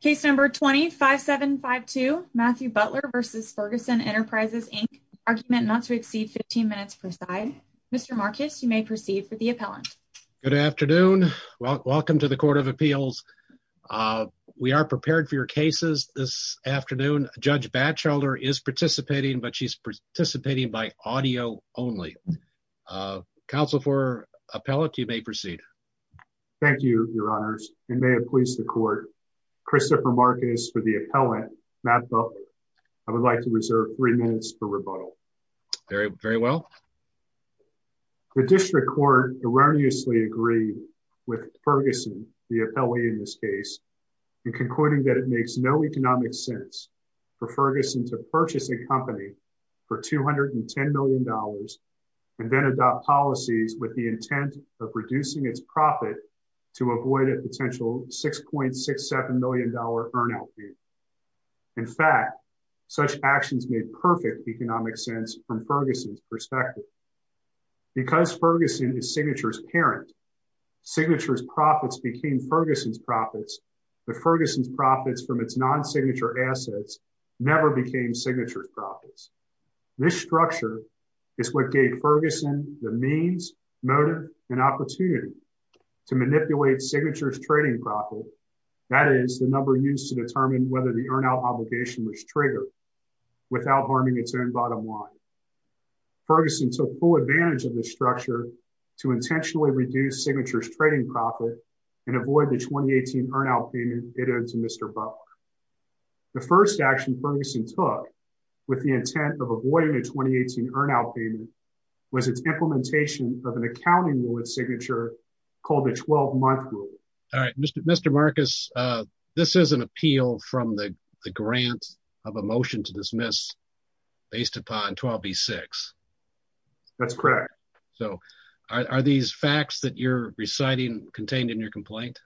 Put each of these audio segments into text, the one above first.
Case number 25752 Matthew Butler v. Ferguson Enterprises Inc. Argument not to exceed 15 minutes per side. Mr. Marcus, you may proceed for the appellant. Good afternoon. Welcome to the Court of Appeals. We are prepared for your cases this afternoon. Judge Batchelder is participating, but she's participating by audio only. Counsel for appellant, you may proceed. Thank you, Your Honors, and may it please the Court, Christopher Marcus for the appellant, Matt Butler. I would like to reserve three minutes for rebuttal. Very well. The District Court erroneously agreed with Ferguson, the appellee in this case, in concluding that it makes no economic sense for Ferguson to purchase a company for $210 million and then adopt policies with the potential $6.67 million earn out. In fact, such actions made perfect economic sense from Ferguson's perspective. Because Ferguson is Signature's parent, Signature's profits became Ferguson's profits, but Ferguson's profits from its non-signature assets never became Signature's profits. This structure is what gave Ferguson the means, motive, and opportunity to manipulate Signature's trading profit, that is, the number used to determine whether the earn out obligation was triggered, without harming its own bottom line. Ferguson took full advantage of this structure to intentionally reduce Signature's trading profit and avoid the 2018 earn out payment it owed to Mr. Butler. The first action Ferguson took with the intent of avoiding a 2018 earn out was its implementation of an accounting rule with Signature called the 12-month rule. All right, Mr. Marcus, this is an appeal from the grant of a motion to dismiss based upon 12b-6. That's correct. So are these facts that you're reciting contained in your complaint?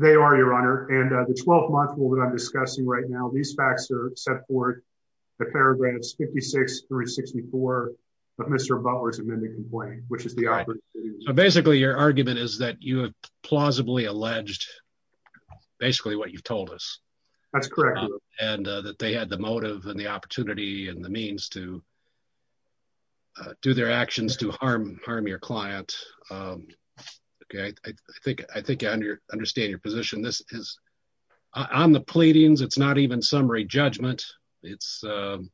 They are, Your Honor, and the 12-month rule that I'm discussing right now, these facts are the paragraphs 56 through 64 of Mr. Butler's amended complaint, which is the opposite. Basically, your argument is that you have plausibly alleged basically what you've told us. That's correct. And that they had the motive and the opportunity and the means to do their actions to harm your client. Okay, I think I understand your position. This is, on the pleadings, it's not even summary judgment. It's on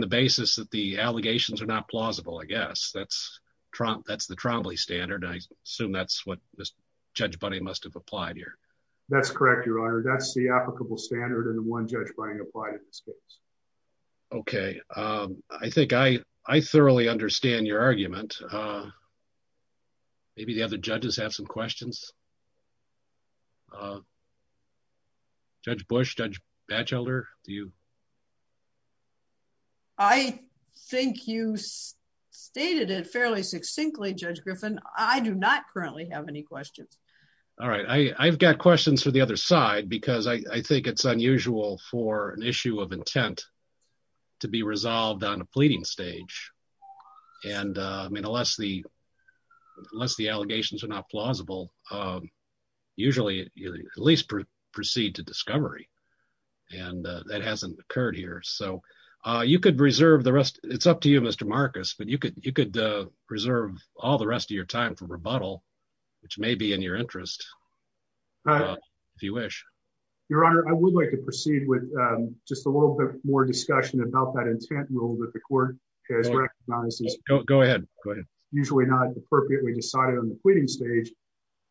the basis that the allegations are not plausible, I guess. That's the Trombley standard. I assume that's what Judge Bunny must have applied here. That's correct, Your Honor. That's the applicable standard and the one Judge Bunny applied in this case. Okay, I think I thoroughly understand your argument. Maybe the other judges have some questions? Judge Bush, Judge Batchelder, do you? I think you stated it fairly succinctly, Judge Griffin. I do not currently have any questions. All right. I've got questions for the other side because I think it's unusual for an issue of unless the allegations are not plausible, usually at least proceed to discovery. That hasn't occurred here. It's up to you, Mr. Marcus, but you could preserve all the rest of your time for rebuttal, which may be in your interest, if you wish. Your Honor, I would like to proceed with just a little bit more discussion about that intent rule that the court has usually not appropriately decided on the pleading stage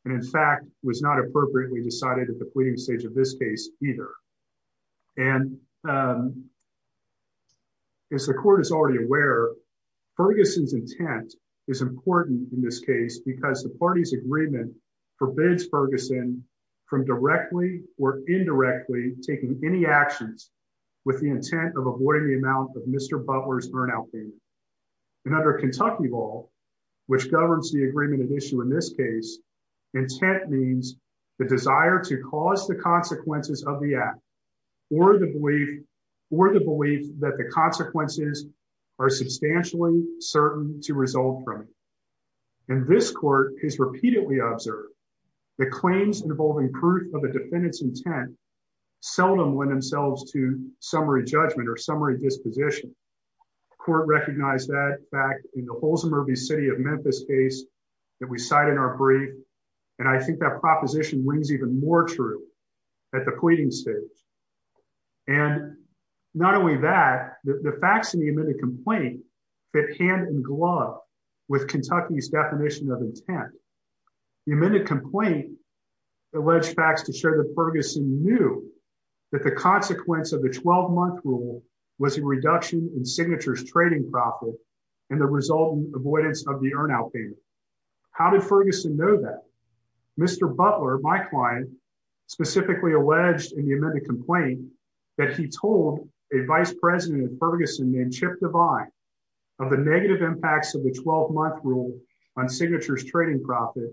and, in fact, was not appropriately decided at the pleading stage of this case either. As the court is already aware, Ferguson's intent is important in this case because the party's agreement forbids Ferguson from directly or indirectly taking any actions with the intent of avoiding the amount of Mr. Butler's burnout and under Kentucky law, which governs the agreement of issue in this case, intent means the desire to cause the consequences of the act or the belief that the consequences are substantially certain to result from it. And this court has repeatedly observed that claims involving proof of a defendant's intent seldom lend themselves to summary judgment or summary disposition. The court recognized that back in the Holzemer v. City of Memphis case that we cite in our brief, and I think that proposition rings even more true at the pleading stage. And not only that, the facts in the amended complaint fit hand in glove with Kentucky's definition of intent. The amended complaint alleged facts to show that Ferguson knew that the consequence of the 12-month rule was a reduction in signatures trading profit and the resultant avoidance of the earn out payment. How did Ferguson know that? Mr. Butler, my client, specifically alleged in the amended complaint that he told a vice president of Ferguson named Chip Devine of the negative impacts of the 12-month rule on signatures trading profit.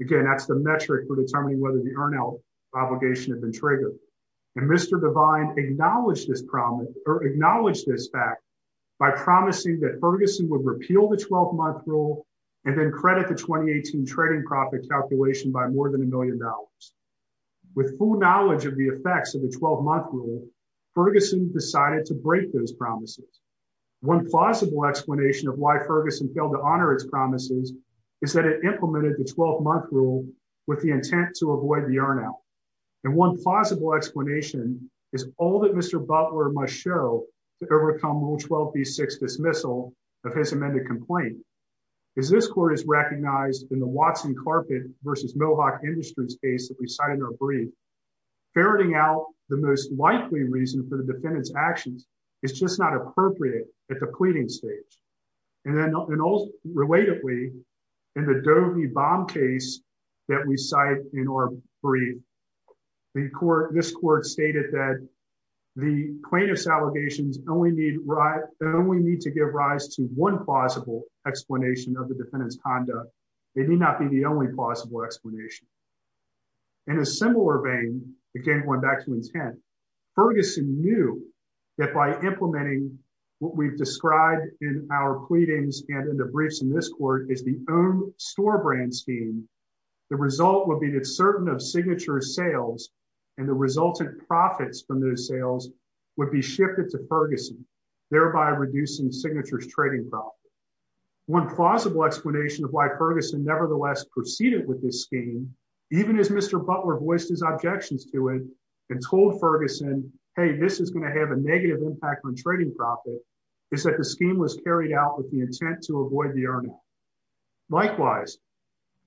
Again, that's the metric for determining whether the earn out obligation had been triggered. And Mr. Devine acknowledged this fact by promising that Ferguson would repeal the 12-month rule and then credit the 2018 trading profit calculation by more than a million dollars. With full knowledge of the effects of the 12-month rule, Ferguson decided to break those promises. One plausible explanation of why Ferguson failed to honor its promises is that it implemented the 12-month rule with the intent to avoid the earn out. And one plausible explanation is all that Mr. Butler must show to overcome Rule 12B6 dismissal of his amended complaint. As this court has recognized in the Watson Carpet versus Mohawk Industries case that we cited in our brief, ferreting out the most likely reason for the relatively in the Doe v. Baum case that we cite in our brief, this court stated that the plaintiff's allegations only need to give rise to one plausible explanation of the defendant's conduct. They need not be the only plausible explanation. In a similar vein, again, going back to intent, Ferguson knew that by implementing what we've described in our pleadings and in briefs in this court is the own store brand scheme, the result would be that certain of signature sales and the resultant profits from those sales would be shifted to Ferguson, thereby reducing signatures trading profit. One plausible explanation of why Ferguson nevertheless proceeded with this scheme, even as Mr. Butler voiced his objections to it and told Ferguson, hey, this is going to have a negative impact on trading profit, is that the scheme was carried out with intent to avoid the earning. Likewise,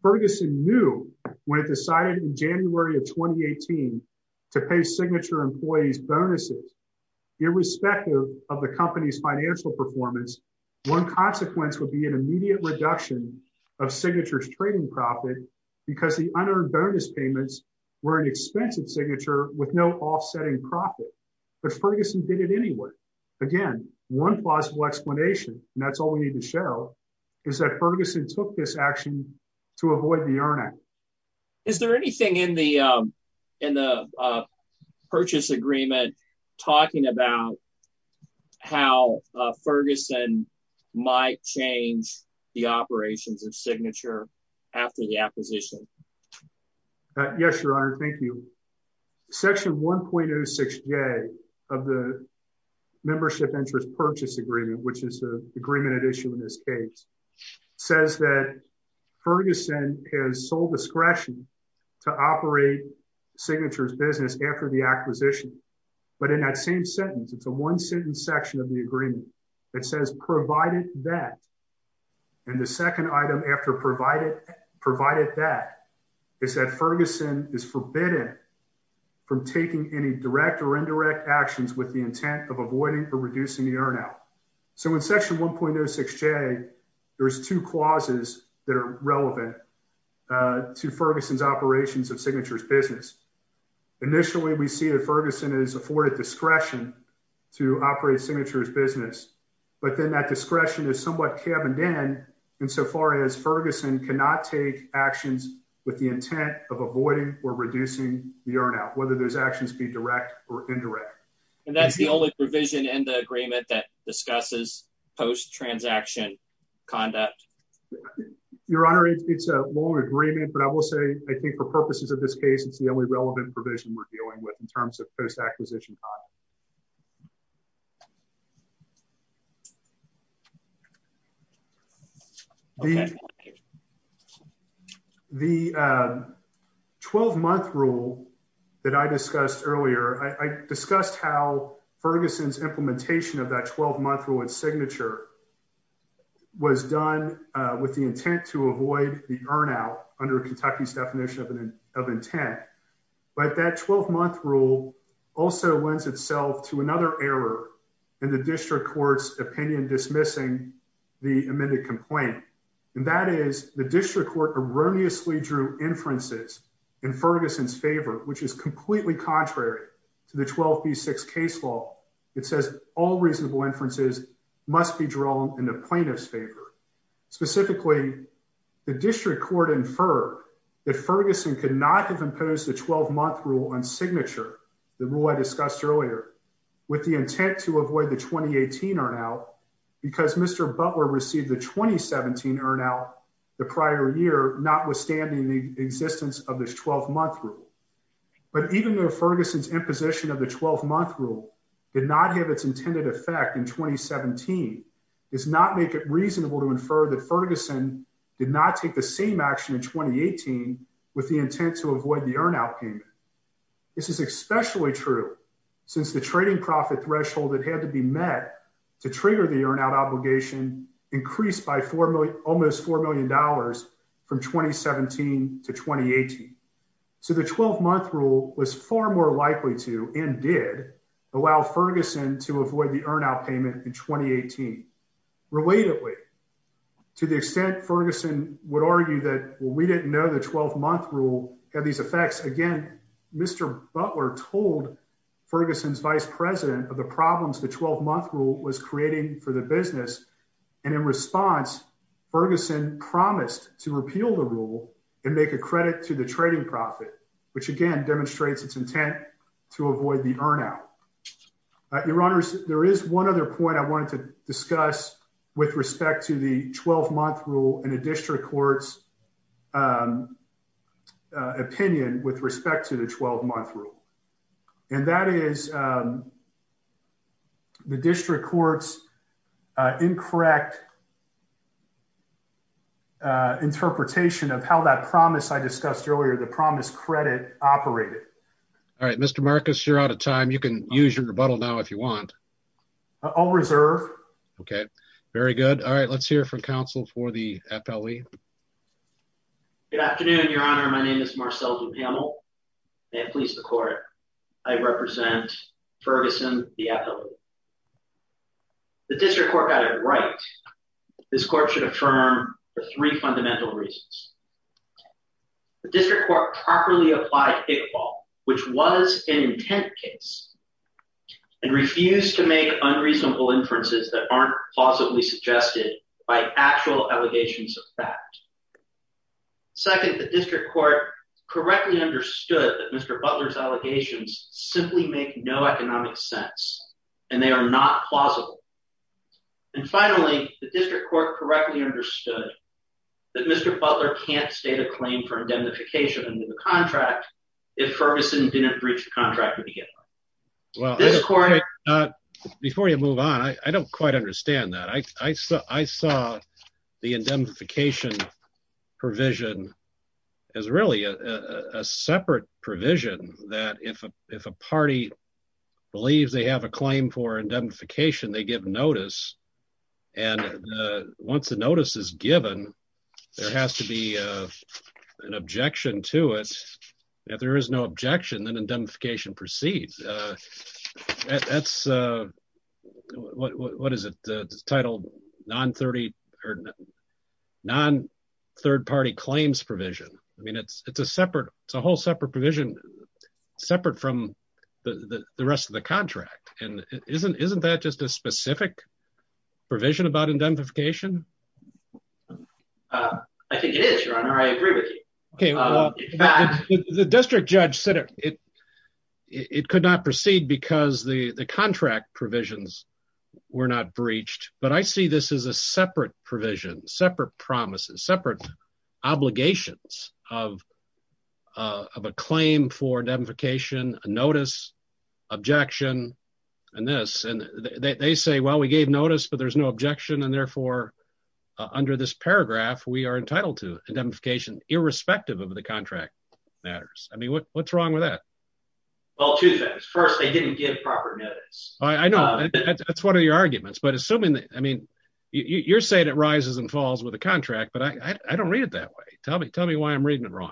Ferguson knew when it decided in January of 2018 to pay signature employees bonuses, irrespective of the company's financial performance, one consequence would be an immediate reduction of signatures trading profit because the unearned bonus payments were an expensive signature with no offsetting profit. But Ferguson did it anyway. Again, one possible explanation and that's all we need to show is that Ferguson took this action to avoid the earning. Is there anything in the in the purchase agreement talking about how Ferguson might change the operations of signature after the acquisition? Yes, Your Honor, thank you. Section 1.06a of the Membership Interest Purchase Agreement, which is the agreement at issue in this case, says that Ferguson has sole discretion to operate signatures business after the acquisition. But in that same sentence, it's a one sentence section of the agreement that says provided that and the second item after provided provided that is that Ferguson is forbidden from taking any direct or indirect actions with the intent of avoiding or reducing the earn out. So in Section 1.06a, there's two clauses that are relevant to Ferguson's operations of signatures business. Initially, we see that Ferguson is afforded discretion to operate signatures business, but then that discretion is somewhat cabined in insofar as Ferguson cannot take actions with the intent of avoiding or reducing the earn out whether those actions be direct or indirect. And that's the only provision in the agreement that discusses post transaction conduct. Your Honor, it's a long agreement, but I will say I think for purposes of this case, it's the only relevant provision we're dealing with in terms of post acquisition. The 12 month rule that I discussed earlier, I discussed how Ferguson's implementation of that 12 month rule and signature was done with the intent to avoid the earn out under Kentucky's definition of intent. But that 12 month rule also lends itself to another error in the district court's opinion dismissing the amended complaint. And that is the district court erroneously drew inferences in Ferguson's favor, which is completely contrary to the 12B6 case law. It says all reasonable inferences must be drawn in the plaintiff's favor. Specifically, the district court inferred that Ferguson could not have imposed the 12 month rule on signature, the rule I discussed earlier, with the intent to avoid the 2018 earn out because Mr. Butler received the 2017 earn out the prior year, notwithstanding the existence of this 12 month rule. But even though Ferguson's imposition of the 12 month rule did not have its intended effect in 2017 does not make it reasonable to infer that Ferguson did not take the same action in 2018 with the intent to avoid the earn out payment. This is especially true since the trading profit threshold that had to be met to trigger the earn out obligation increased by almost $4 million from 2017 to 2018. So the 12 month rule was far more likely to and did allow Ferguson to avoid the earn out payment in 2018. Relatedly, to the extent Ferguson would argue that we didn't know the 12 month rule had these effects, again, Mr. Butler told Ferguson's vice president of the problems the 12 month rule was creating for the business. And in response, Ferguson promised to repeal the rule and make a credit to the trading profit, which again demonstrates its intent to avoid the earn out. Your honors, there is one other point I wanted to discuss with respect to the 12 month rule and a district court's opinion with respect to the 12 month rule. And that is the district courts incorrect interpretation of how that promise I discussed earlier, the promise credit operated. All right, Mr. Marcus, you're out of time. You can use your rebuttal now if you want. I'll reserve. Okay, very good. All right, let's hear from counsel for the FLE. Good afternoon, your honor. My name is Marcel DuPamel. May it please the court. I represent Ferguson, the FLE. The district court got it right. This court should affirm for three fundamental reasons. The district court properly applied Hick ball, which was an intent case and refused to make unreasonable inferences that aren't positively suggested by actual allegations of fact. Second, the district court correctly understood that Mr. Butler's allegations simply make no economic sense and they are not plausible. And finally, the district court correctly understood that Mr. Butler can't state a claim for indemnification under the contract if Ferguson didn't breach the contract. Well, before you move on, I don't quite understand that. I saw the indemnification provision as really a separate provision that if a party believes they have a claim for indemnification, they give notice. And once the notice is given, there has to be an objection to it. If there is no objection, then indemnification proceeds. That's, what is it? It's titled non-third party claims provision. I mean, it's a whole separate provision separate from the rest of the contract. And isn't that just a specific provision about indemnification? I think it is your honor. I agree with you. Okay. The district judge said it could not proceed because the contract provisions were not breached, but I see this as a separate provision, separate promises, separate obligations of a claim for notice, but there's no objection. And therefore under this paragraph, we are entitled to indemnification irrespective of the contract matters. I mean, what's wrong with that? Well, two things. First, they didn't give proper notice. I know that's one of your arguments, but assuming that, I mean, you're saying it rises and falls with a contract, but I don't read it that way. Tell me, tell me why I'm reading it wrong.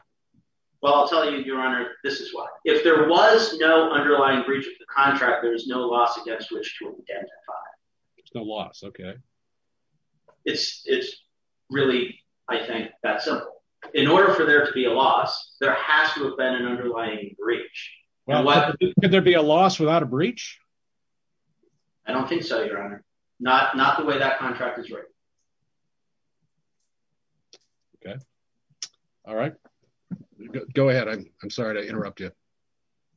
Well, I'll tell you, your honor, this is why if there was no underlying breach of the contract, there was no loss against which to it's no loss. Okay. It's, it's really, I think that's simple in order for there to be a loss, there has to have been an underlying breach. Could there be a loss without a breach? I don't think so. Your honor. Not, not the way that contract is right. Okay. All right. Go ahead. I'm sorry to interrupt you.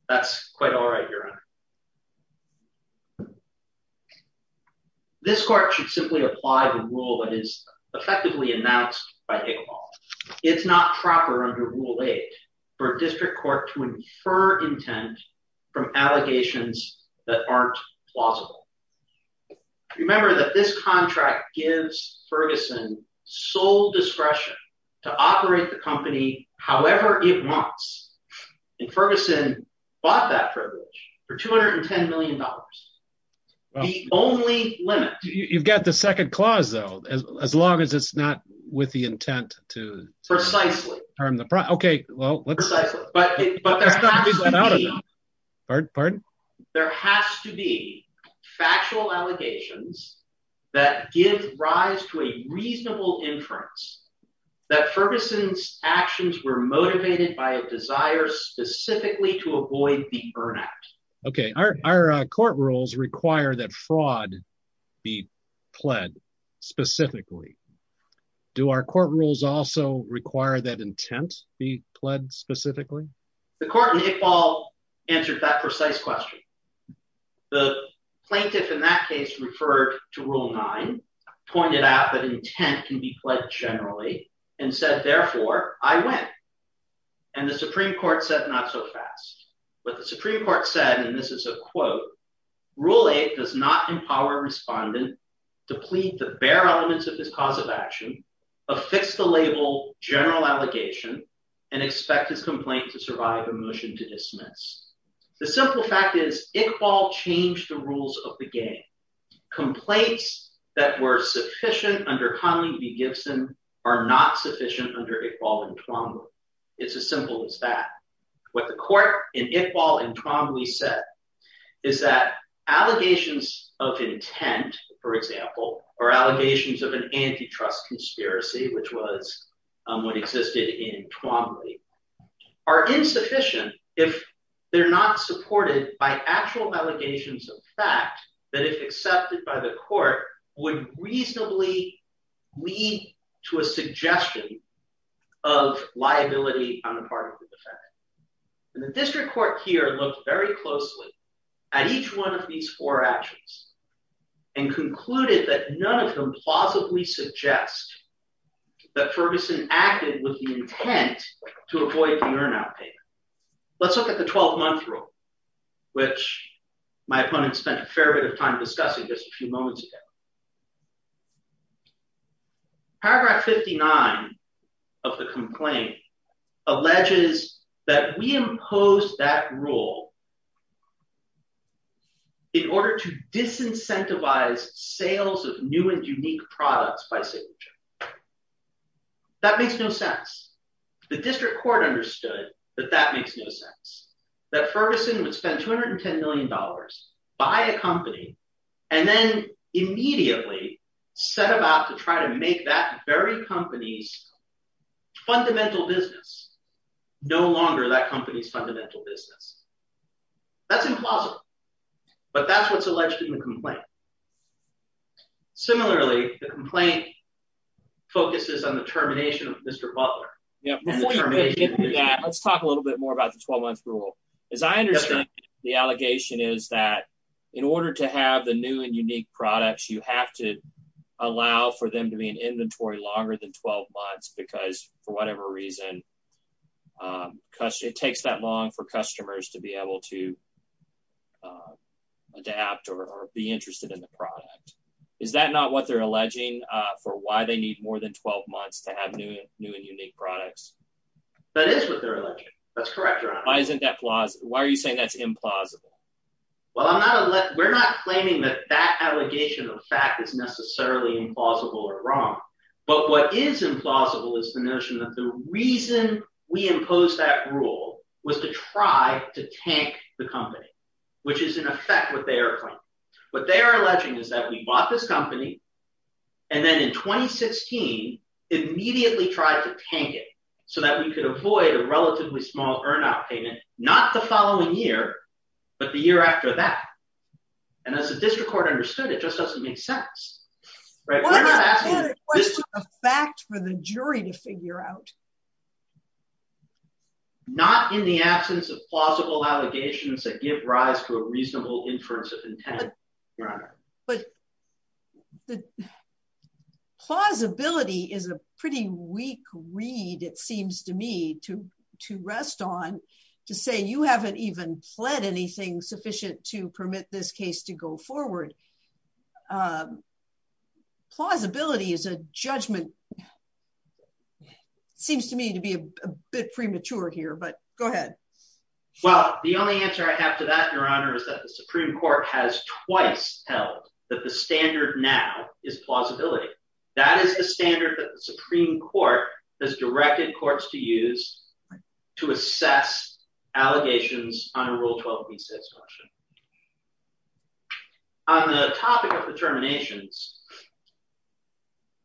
That's quite all right. Your honor. This court should simply apply the rule that is effectively announced by Higginbotham. It's not proper under rule eight for a district court to infer intent from allegations that aren't plausible. Remember that this contract gives Ferguson sole discretion to operate the company, however it wants. And Ferguson bought that privilege for $210 million. The only limit. You've got the second clause though, as long as it's not with the intent to precisely term the price. Okay. Well, but there has to be factual allegations that give rise to a reasonable inference that Ferguson's actions were motivated by a desire specifically to avoid burnout. Okay. Our court rules require that fraud be pled specifically. Do our court rules also require that intent be pled specifically? The court in Iqbal answered that precise question. The plaintiff in that case referred to rule nine, pointed out that intent can be pled generally and said, therefore I went. And the Supreme court said, not so fast, but the Supreme court said, and this is a quote, rule eight does not empower respondent to plead the bare elements of this cause of action, affix the label general allegation and expect his complaint to survive a motion to dismiss. The simple fact is Iqbal changed the rules of the under Iqbal and Twombly. It's as simple as that. What the court in Iqbal and Twombly said is that allegations of intent, for example, or allegations of an antitrust conspiracy, which was what existed in Twombly are insufficient. If they're not supported by actual allegations of fact that if accepted by the court would reasonably lead to a suggestion of liability on the part of the defendant. And the district court here looked very closely at each one of these four actions and concluded that none of them plausibly suggest that Ferguson acted with the intent to avoid the burnout payment. Let's look at the 12 month rule, which my opponent spent a fair bit of time discussing just a few moments ago. Paragraph 59 of the complaint alleges that we impose that rule in order to disincentivize sales of new and unique products by signature. That makes no sense. The district court understood that that makes no sense, that Ferguson would spend $210 million, buy a company, and then immediately set about to try to make that very company's fundamental business no longer that company's fundamental business. That's implausible, but that's what's alleged in the complaint. Similarly, the complaint focuses on the termination of Mr. Butler. Before you get into that, let's talk a little bit more about the 12 month rule. As I understand, the allegation is that in order to have the new and unique products, you have to allow for them to be an inventory longer than 12 months because for whatever reason, it takes that long for customers to be able to adapt or be interested in the product. Is that not what they're alleging for why they need more than 12 months to have new and unique products? That is what they're alleging. That's correct. Why are you saying that's implausible? We're not claiming that that allegation of fact is necessarily implausible or wrong, but what is implausible is the notion that the reason we impose that rule was to try to tank the company, which is in effect what they are claiming. What they are alleging is that we bought this company, and then in 2016, immediately tried to tank it so that we could avoid a relatively small earn out payment, not the following year, but the year after that. As the district court understood it, it just doesn't make sense. We're not asking this is a fact for the jury to figure out. Not in the absence of plausible allegations that give rise to a reasonable inference of intent. But the plausibility is a pretty weak read, it seems to me, to rest on, to say you haven't even pled anything sufficient to permit this case to go forward. Plausibility is a judgment. Seems to me to be a bit premature here, but go ahead. Well, the only answer I have to that, Your Honor, is that the Supreme Court has twice held that the standard now is plausibility. That is the standard that the Supreme Court has directed courts to use to assess allegations under Rule 12 of the East States Constitution. On the topic of determinations,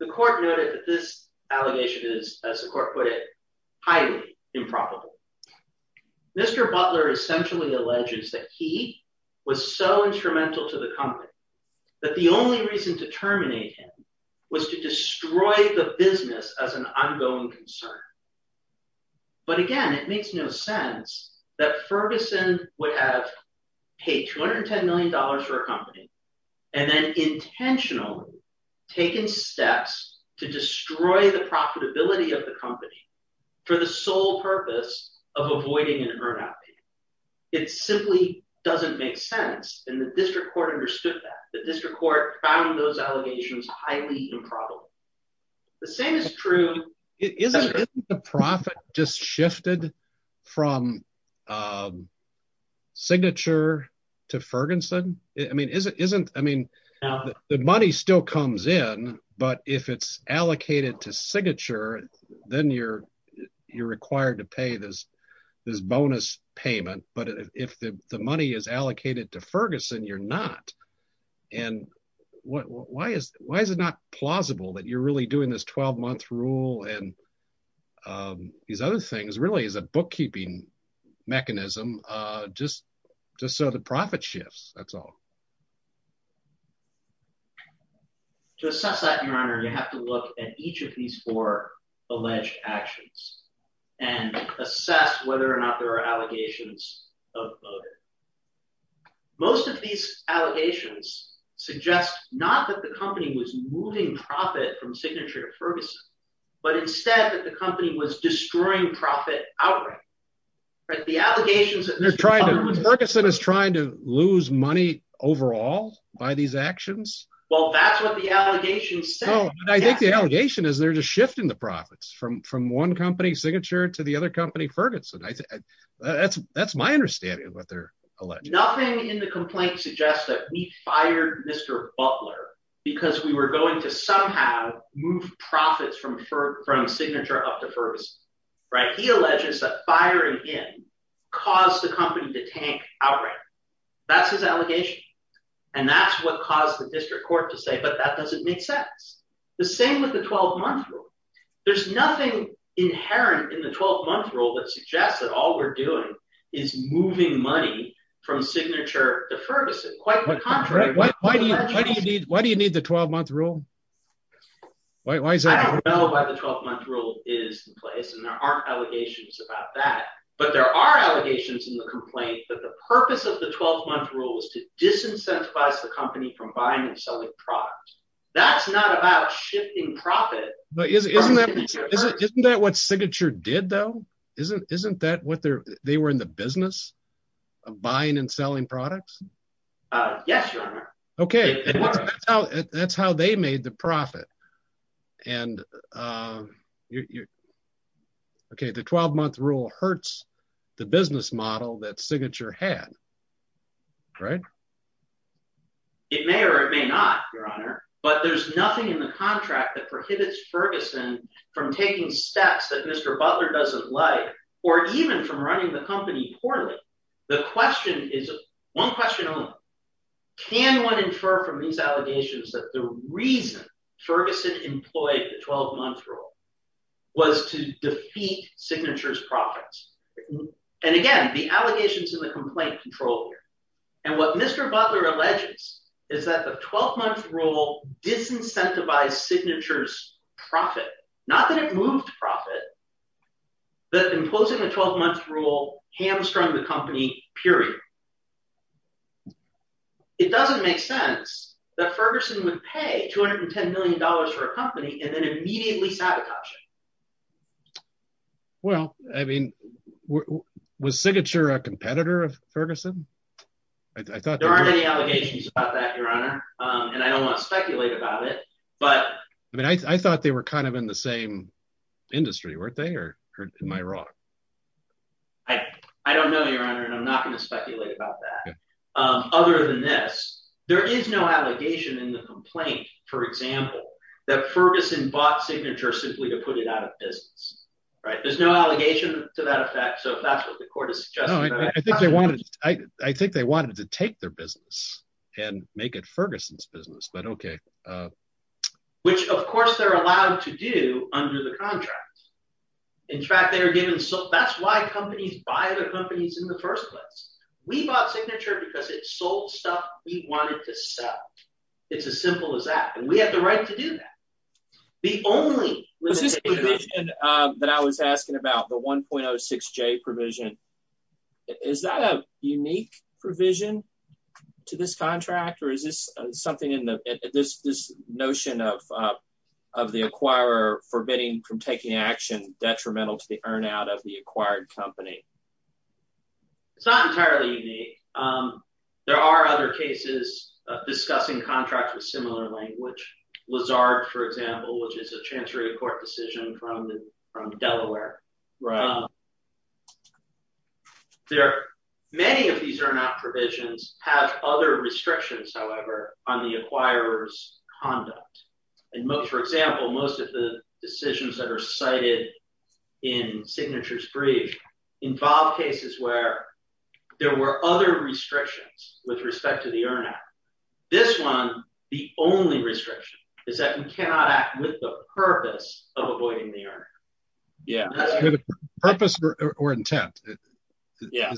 the court noted that this allegation is, as the court put it, highly improbable. Mr. Butler essentially alleges that he was so instrumental to the company that the only reason to terminate him was to destroy the business as an ongoing concern. But again, it makes no sense that Ferguson would have paid $210 million for a company and then intentionally taken steps to destroy the profitability of the company for the sole purpose of avoiding an earn-out. It simply doesn't make sense, and the district court understood that. The district court found those allegations highly improbable. The same is true— Isn't the profit just shifted from signature to Ferguson? The money still comes in, but if it's allocated to signature, then you're required to pay this bonus payment. But if the money is allocated to Ferguson, you're not. Why is it not plausible that you're really doing this 12-month rule and all these other things really as a bookkeeping mechanism just so the profit shifts? That's all. To assess that, Your Honor, you have to look at each of these four alleged actions and assess whether or not there are allegations of voter. Most of these allegations suggest not that the company was moving profit from signature to Ferguson, but instead that the company was destroying profit outright. Ferguson is trying to lose money overall by these actions? Well, that's what the allegations say. I think the allegation is they're just shifting the profits from one company signature to the other company Ferguson. That's my understanding of what they're alleging. Nothing in the complaint suggests that we fired Mr. Butler because we were going to somehow move profits from signature up to Ferguson. He alleges that firing him caused the company to tank outright. That's his allegation. That's what caused the district court to say, but that doesn't make sense. The same with the 12-month rule. There's nothing inherent in the 12-month rule that suggests that all we're doing is moving money from signature to Ferguson. Why do you need the 12-month rule? I don't know why the 12-month rule is in place and there aren't allegations about that, but there are allegations in the complaint that the purpose of the 12-month rule is to disincentivize the company from buying and selling products. That's not about shifting profit. Isn't that what Signature did though? They were in the business? Buying and selling products? Yes, your honor. That's how they made the profit. The 12-month rule hurts the business model that Signature had, right? It may or it may not, your honor, but there's nothing in the contract that prohibits Ferguson from taking steps that Mr. Butler doesn't like or even from running the company poorly. The question is, one question only, can one infer from these allegations that the reason Ferguson employed the 12-month rule was to defeat Signature's profits? And again, the allegations in the complaint control here. And what Mr. Butler alleges is that the 12-month rule disincentivized Signature's profit, not that it moved profit, but imposing the 12-month rule hamstrung the company, period. It doesn't make sense that Ferguson would pay $210 million for a company and then immediately sabotage it. Well, I mean, was Signature a competitor of Ferguson? There aren't any allegations about that, your honor, and I don't want to speculate about it, I mean, I thought they were kind of in the same industry, weren't they, or am I wrong? I don't know, your honor, and I'm not going to speculate about that. Other than this, there is no allegation in the complaint, for example, that Ferguson bought Signature simply to put it out of business, right? There's no allegation to that effect, so if that's what the court is suggesting. I think they wanted to take their business and make it Ferguson's business, but okay. Which, of course, they're allowed to do under the contract. In fact, that's why companies buy other companies in the first place. We bought Signature because it sold stuff we wanted to sell. It's as simple as that, and we have the right to do that. The only- Was this provision that I was asking about, the 1.06j provision, is that a unique provision to this contract, or is this something in the- this notion of the acquirer forbidding from taking action detrimental to the earn out of the acquired company? It's not entirely unique. There are other cases of discussing contracts with similar language. Lazard, for example, which is a transferee court decision from Delaware. There are many of these earn out provisions have other restrictions, however, on the acquirer's conduct. For example, most of the decisions that are cited in Signature's brief involve cases where there were other restrictions with respect to the earn out. This one, the only restriction is that you cannot act with the purpose of avoiding the earn. Yeah. Purpose or intent. Yeah.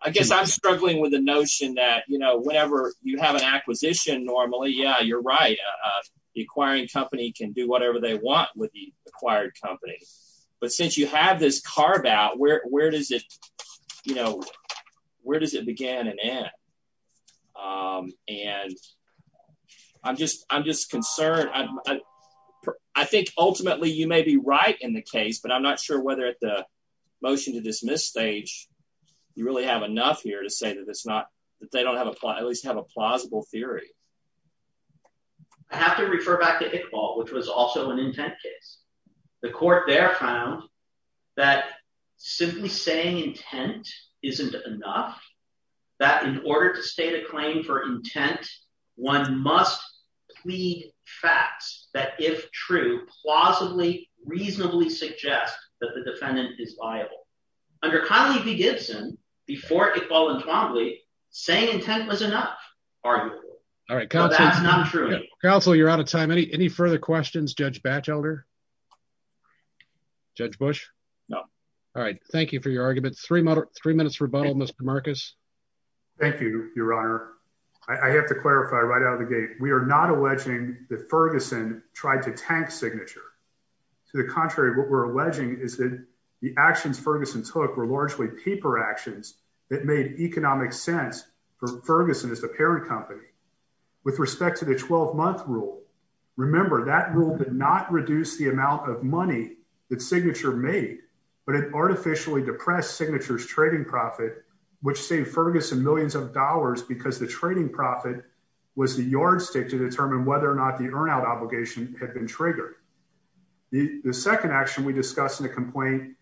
I guess I'm struggling with the notion that whenever you have an acquisition normally, yeah, you're right. The acquiring company can do whatever they want with the acquired company, but since you have this carve out, where does it begin and end? Um, and I'm just, I'm just concerned. I think ultimately you may be right in the case, but I'm not sure whether at the motion to dismiss stage, you really have enough here to say that it's not, that they don't have a, at least have a plausible theory. I have to refer back to Iqbal, which was also an intent case. The court there found that simply saying intent isn't enough, that in order to state a claim for intent, one must plead facts that if true, plausibly, reasonably suggest that the defendant is liable. Under Connelly v. Gibson, before Iqbal and Twombly, saying intent was enough, arguably. All right. Counsel, you're out of time. Any, any further questions? Judge Batchelder? Judge Bush? No. All right. Thank you for your argument. Three minutes rebuttal, Mr. Marcus. Thank you, your honor. I have to clarify right out of the gate. We are not alleging that Ferguson tried to tank signature. To the contrary, what we're alleging is that the actions Ferguson took were largely paper actions that made economic sense for Ferguson as the parent company. With respect to the 12-month rule, remember, that rule did not reduce the amount of money that Signature made, but it artificially depressed Signature's trading profit, which saved Ferguson millions of dollars because the trading profit was the yardstick to determine whether or not the earn out obligation had been triggered. The second action we discuss in the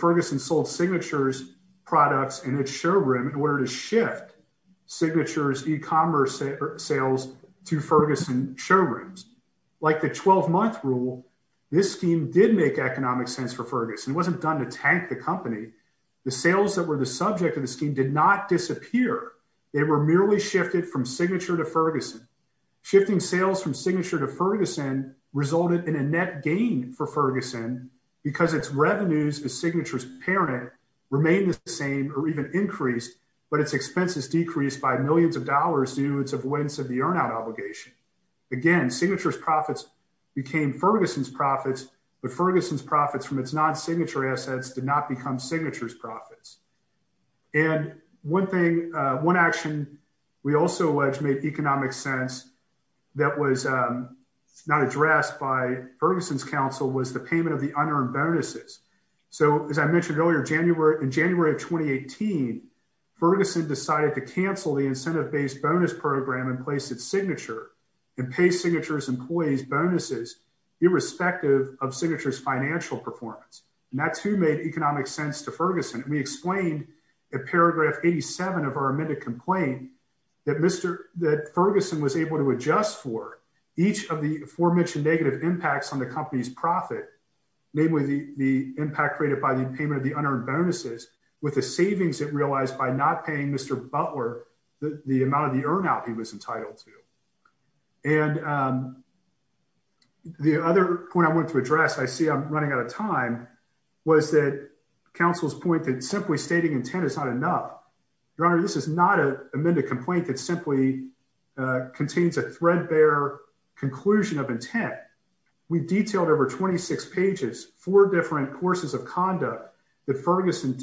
Ferguson sold Signature's products in its showroom in order to shift Signature's e-commerce sales to Ferguson showrooms. Like the 12-month rule, this scheme did make economic sense for Ferguson. It wasn't done to tank the company. The sales that were the subject of the scheme did not disappear. They were merely shifted from Signature to Ferguson. Shifting sales from Signature to Ferguson resulted in a net gain for Ferguson because its revenues as Signature's parent remained the same or even increased, but its expenses decreased by millions of dollars due to its avoidance of the earn out obligation. Again, Signature's profits became Ferguson's profits, but Ferguson's profits from its non-signature assets did not become Signature's profits. And one action we also made economic sense that was not addressed by Ferguson's counsel was the payment of the unearned bonuses. So as I mentioned earlier, in January of 2018, Ferguson decided to cancel the incentive-based bonus program and place its signature and pay Signature's employees bonuses irrespective of Signature's financial performance. And that's who made economic sense to Ferguson. We explained in paragraph 87 of our amended complaint that Ferguson was able to adjust for each of the aforementioned negative impacts on the company's profit, namely the impact created by the payment of the unearned bonuses with the savings it realized by not paying Mr. Butler the amount of the earn out he was entitled to. And the other point I wanted to address, I see I'm running out of time, was that counsel's point that simply stating intent is not enough. Your Honor, this is not an amended complaint that simply contains a threadbare conclusion of intent. We've detailed over 26 pages, four different courses of conduct that Ferguson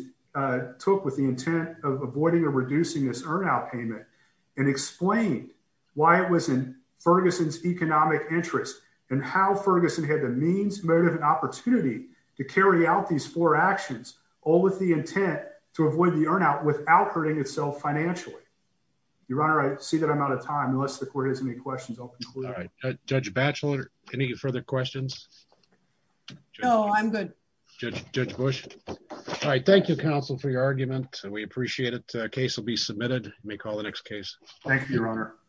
took with the intent of avoiding or reducing this earn out payment and explained why it was in Ferguson's interest and how Ferguson had the means, motive, and opportunity to carry out these four actions, all with the intent to avoid the earn out without hurting itself financially. Your Honor, I see that I'm out of time. Unless the court has any questions, I'll conclude. All right. Judge Batchelor, any further questions? No, I'm good. Judge Bush. All right. Thank you, counsel, for your argument. We appreciate it. Case will be submitted. You may call the next case. Thank you, Your Honor.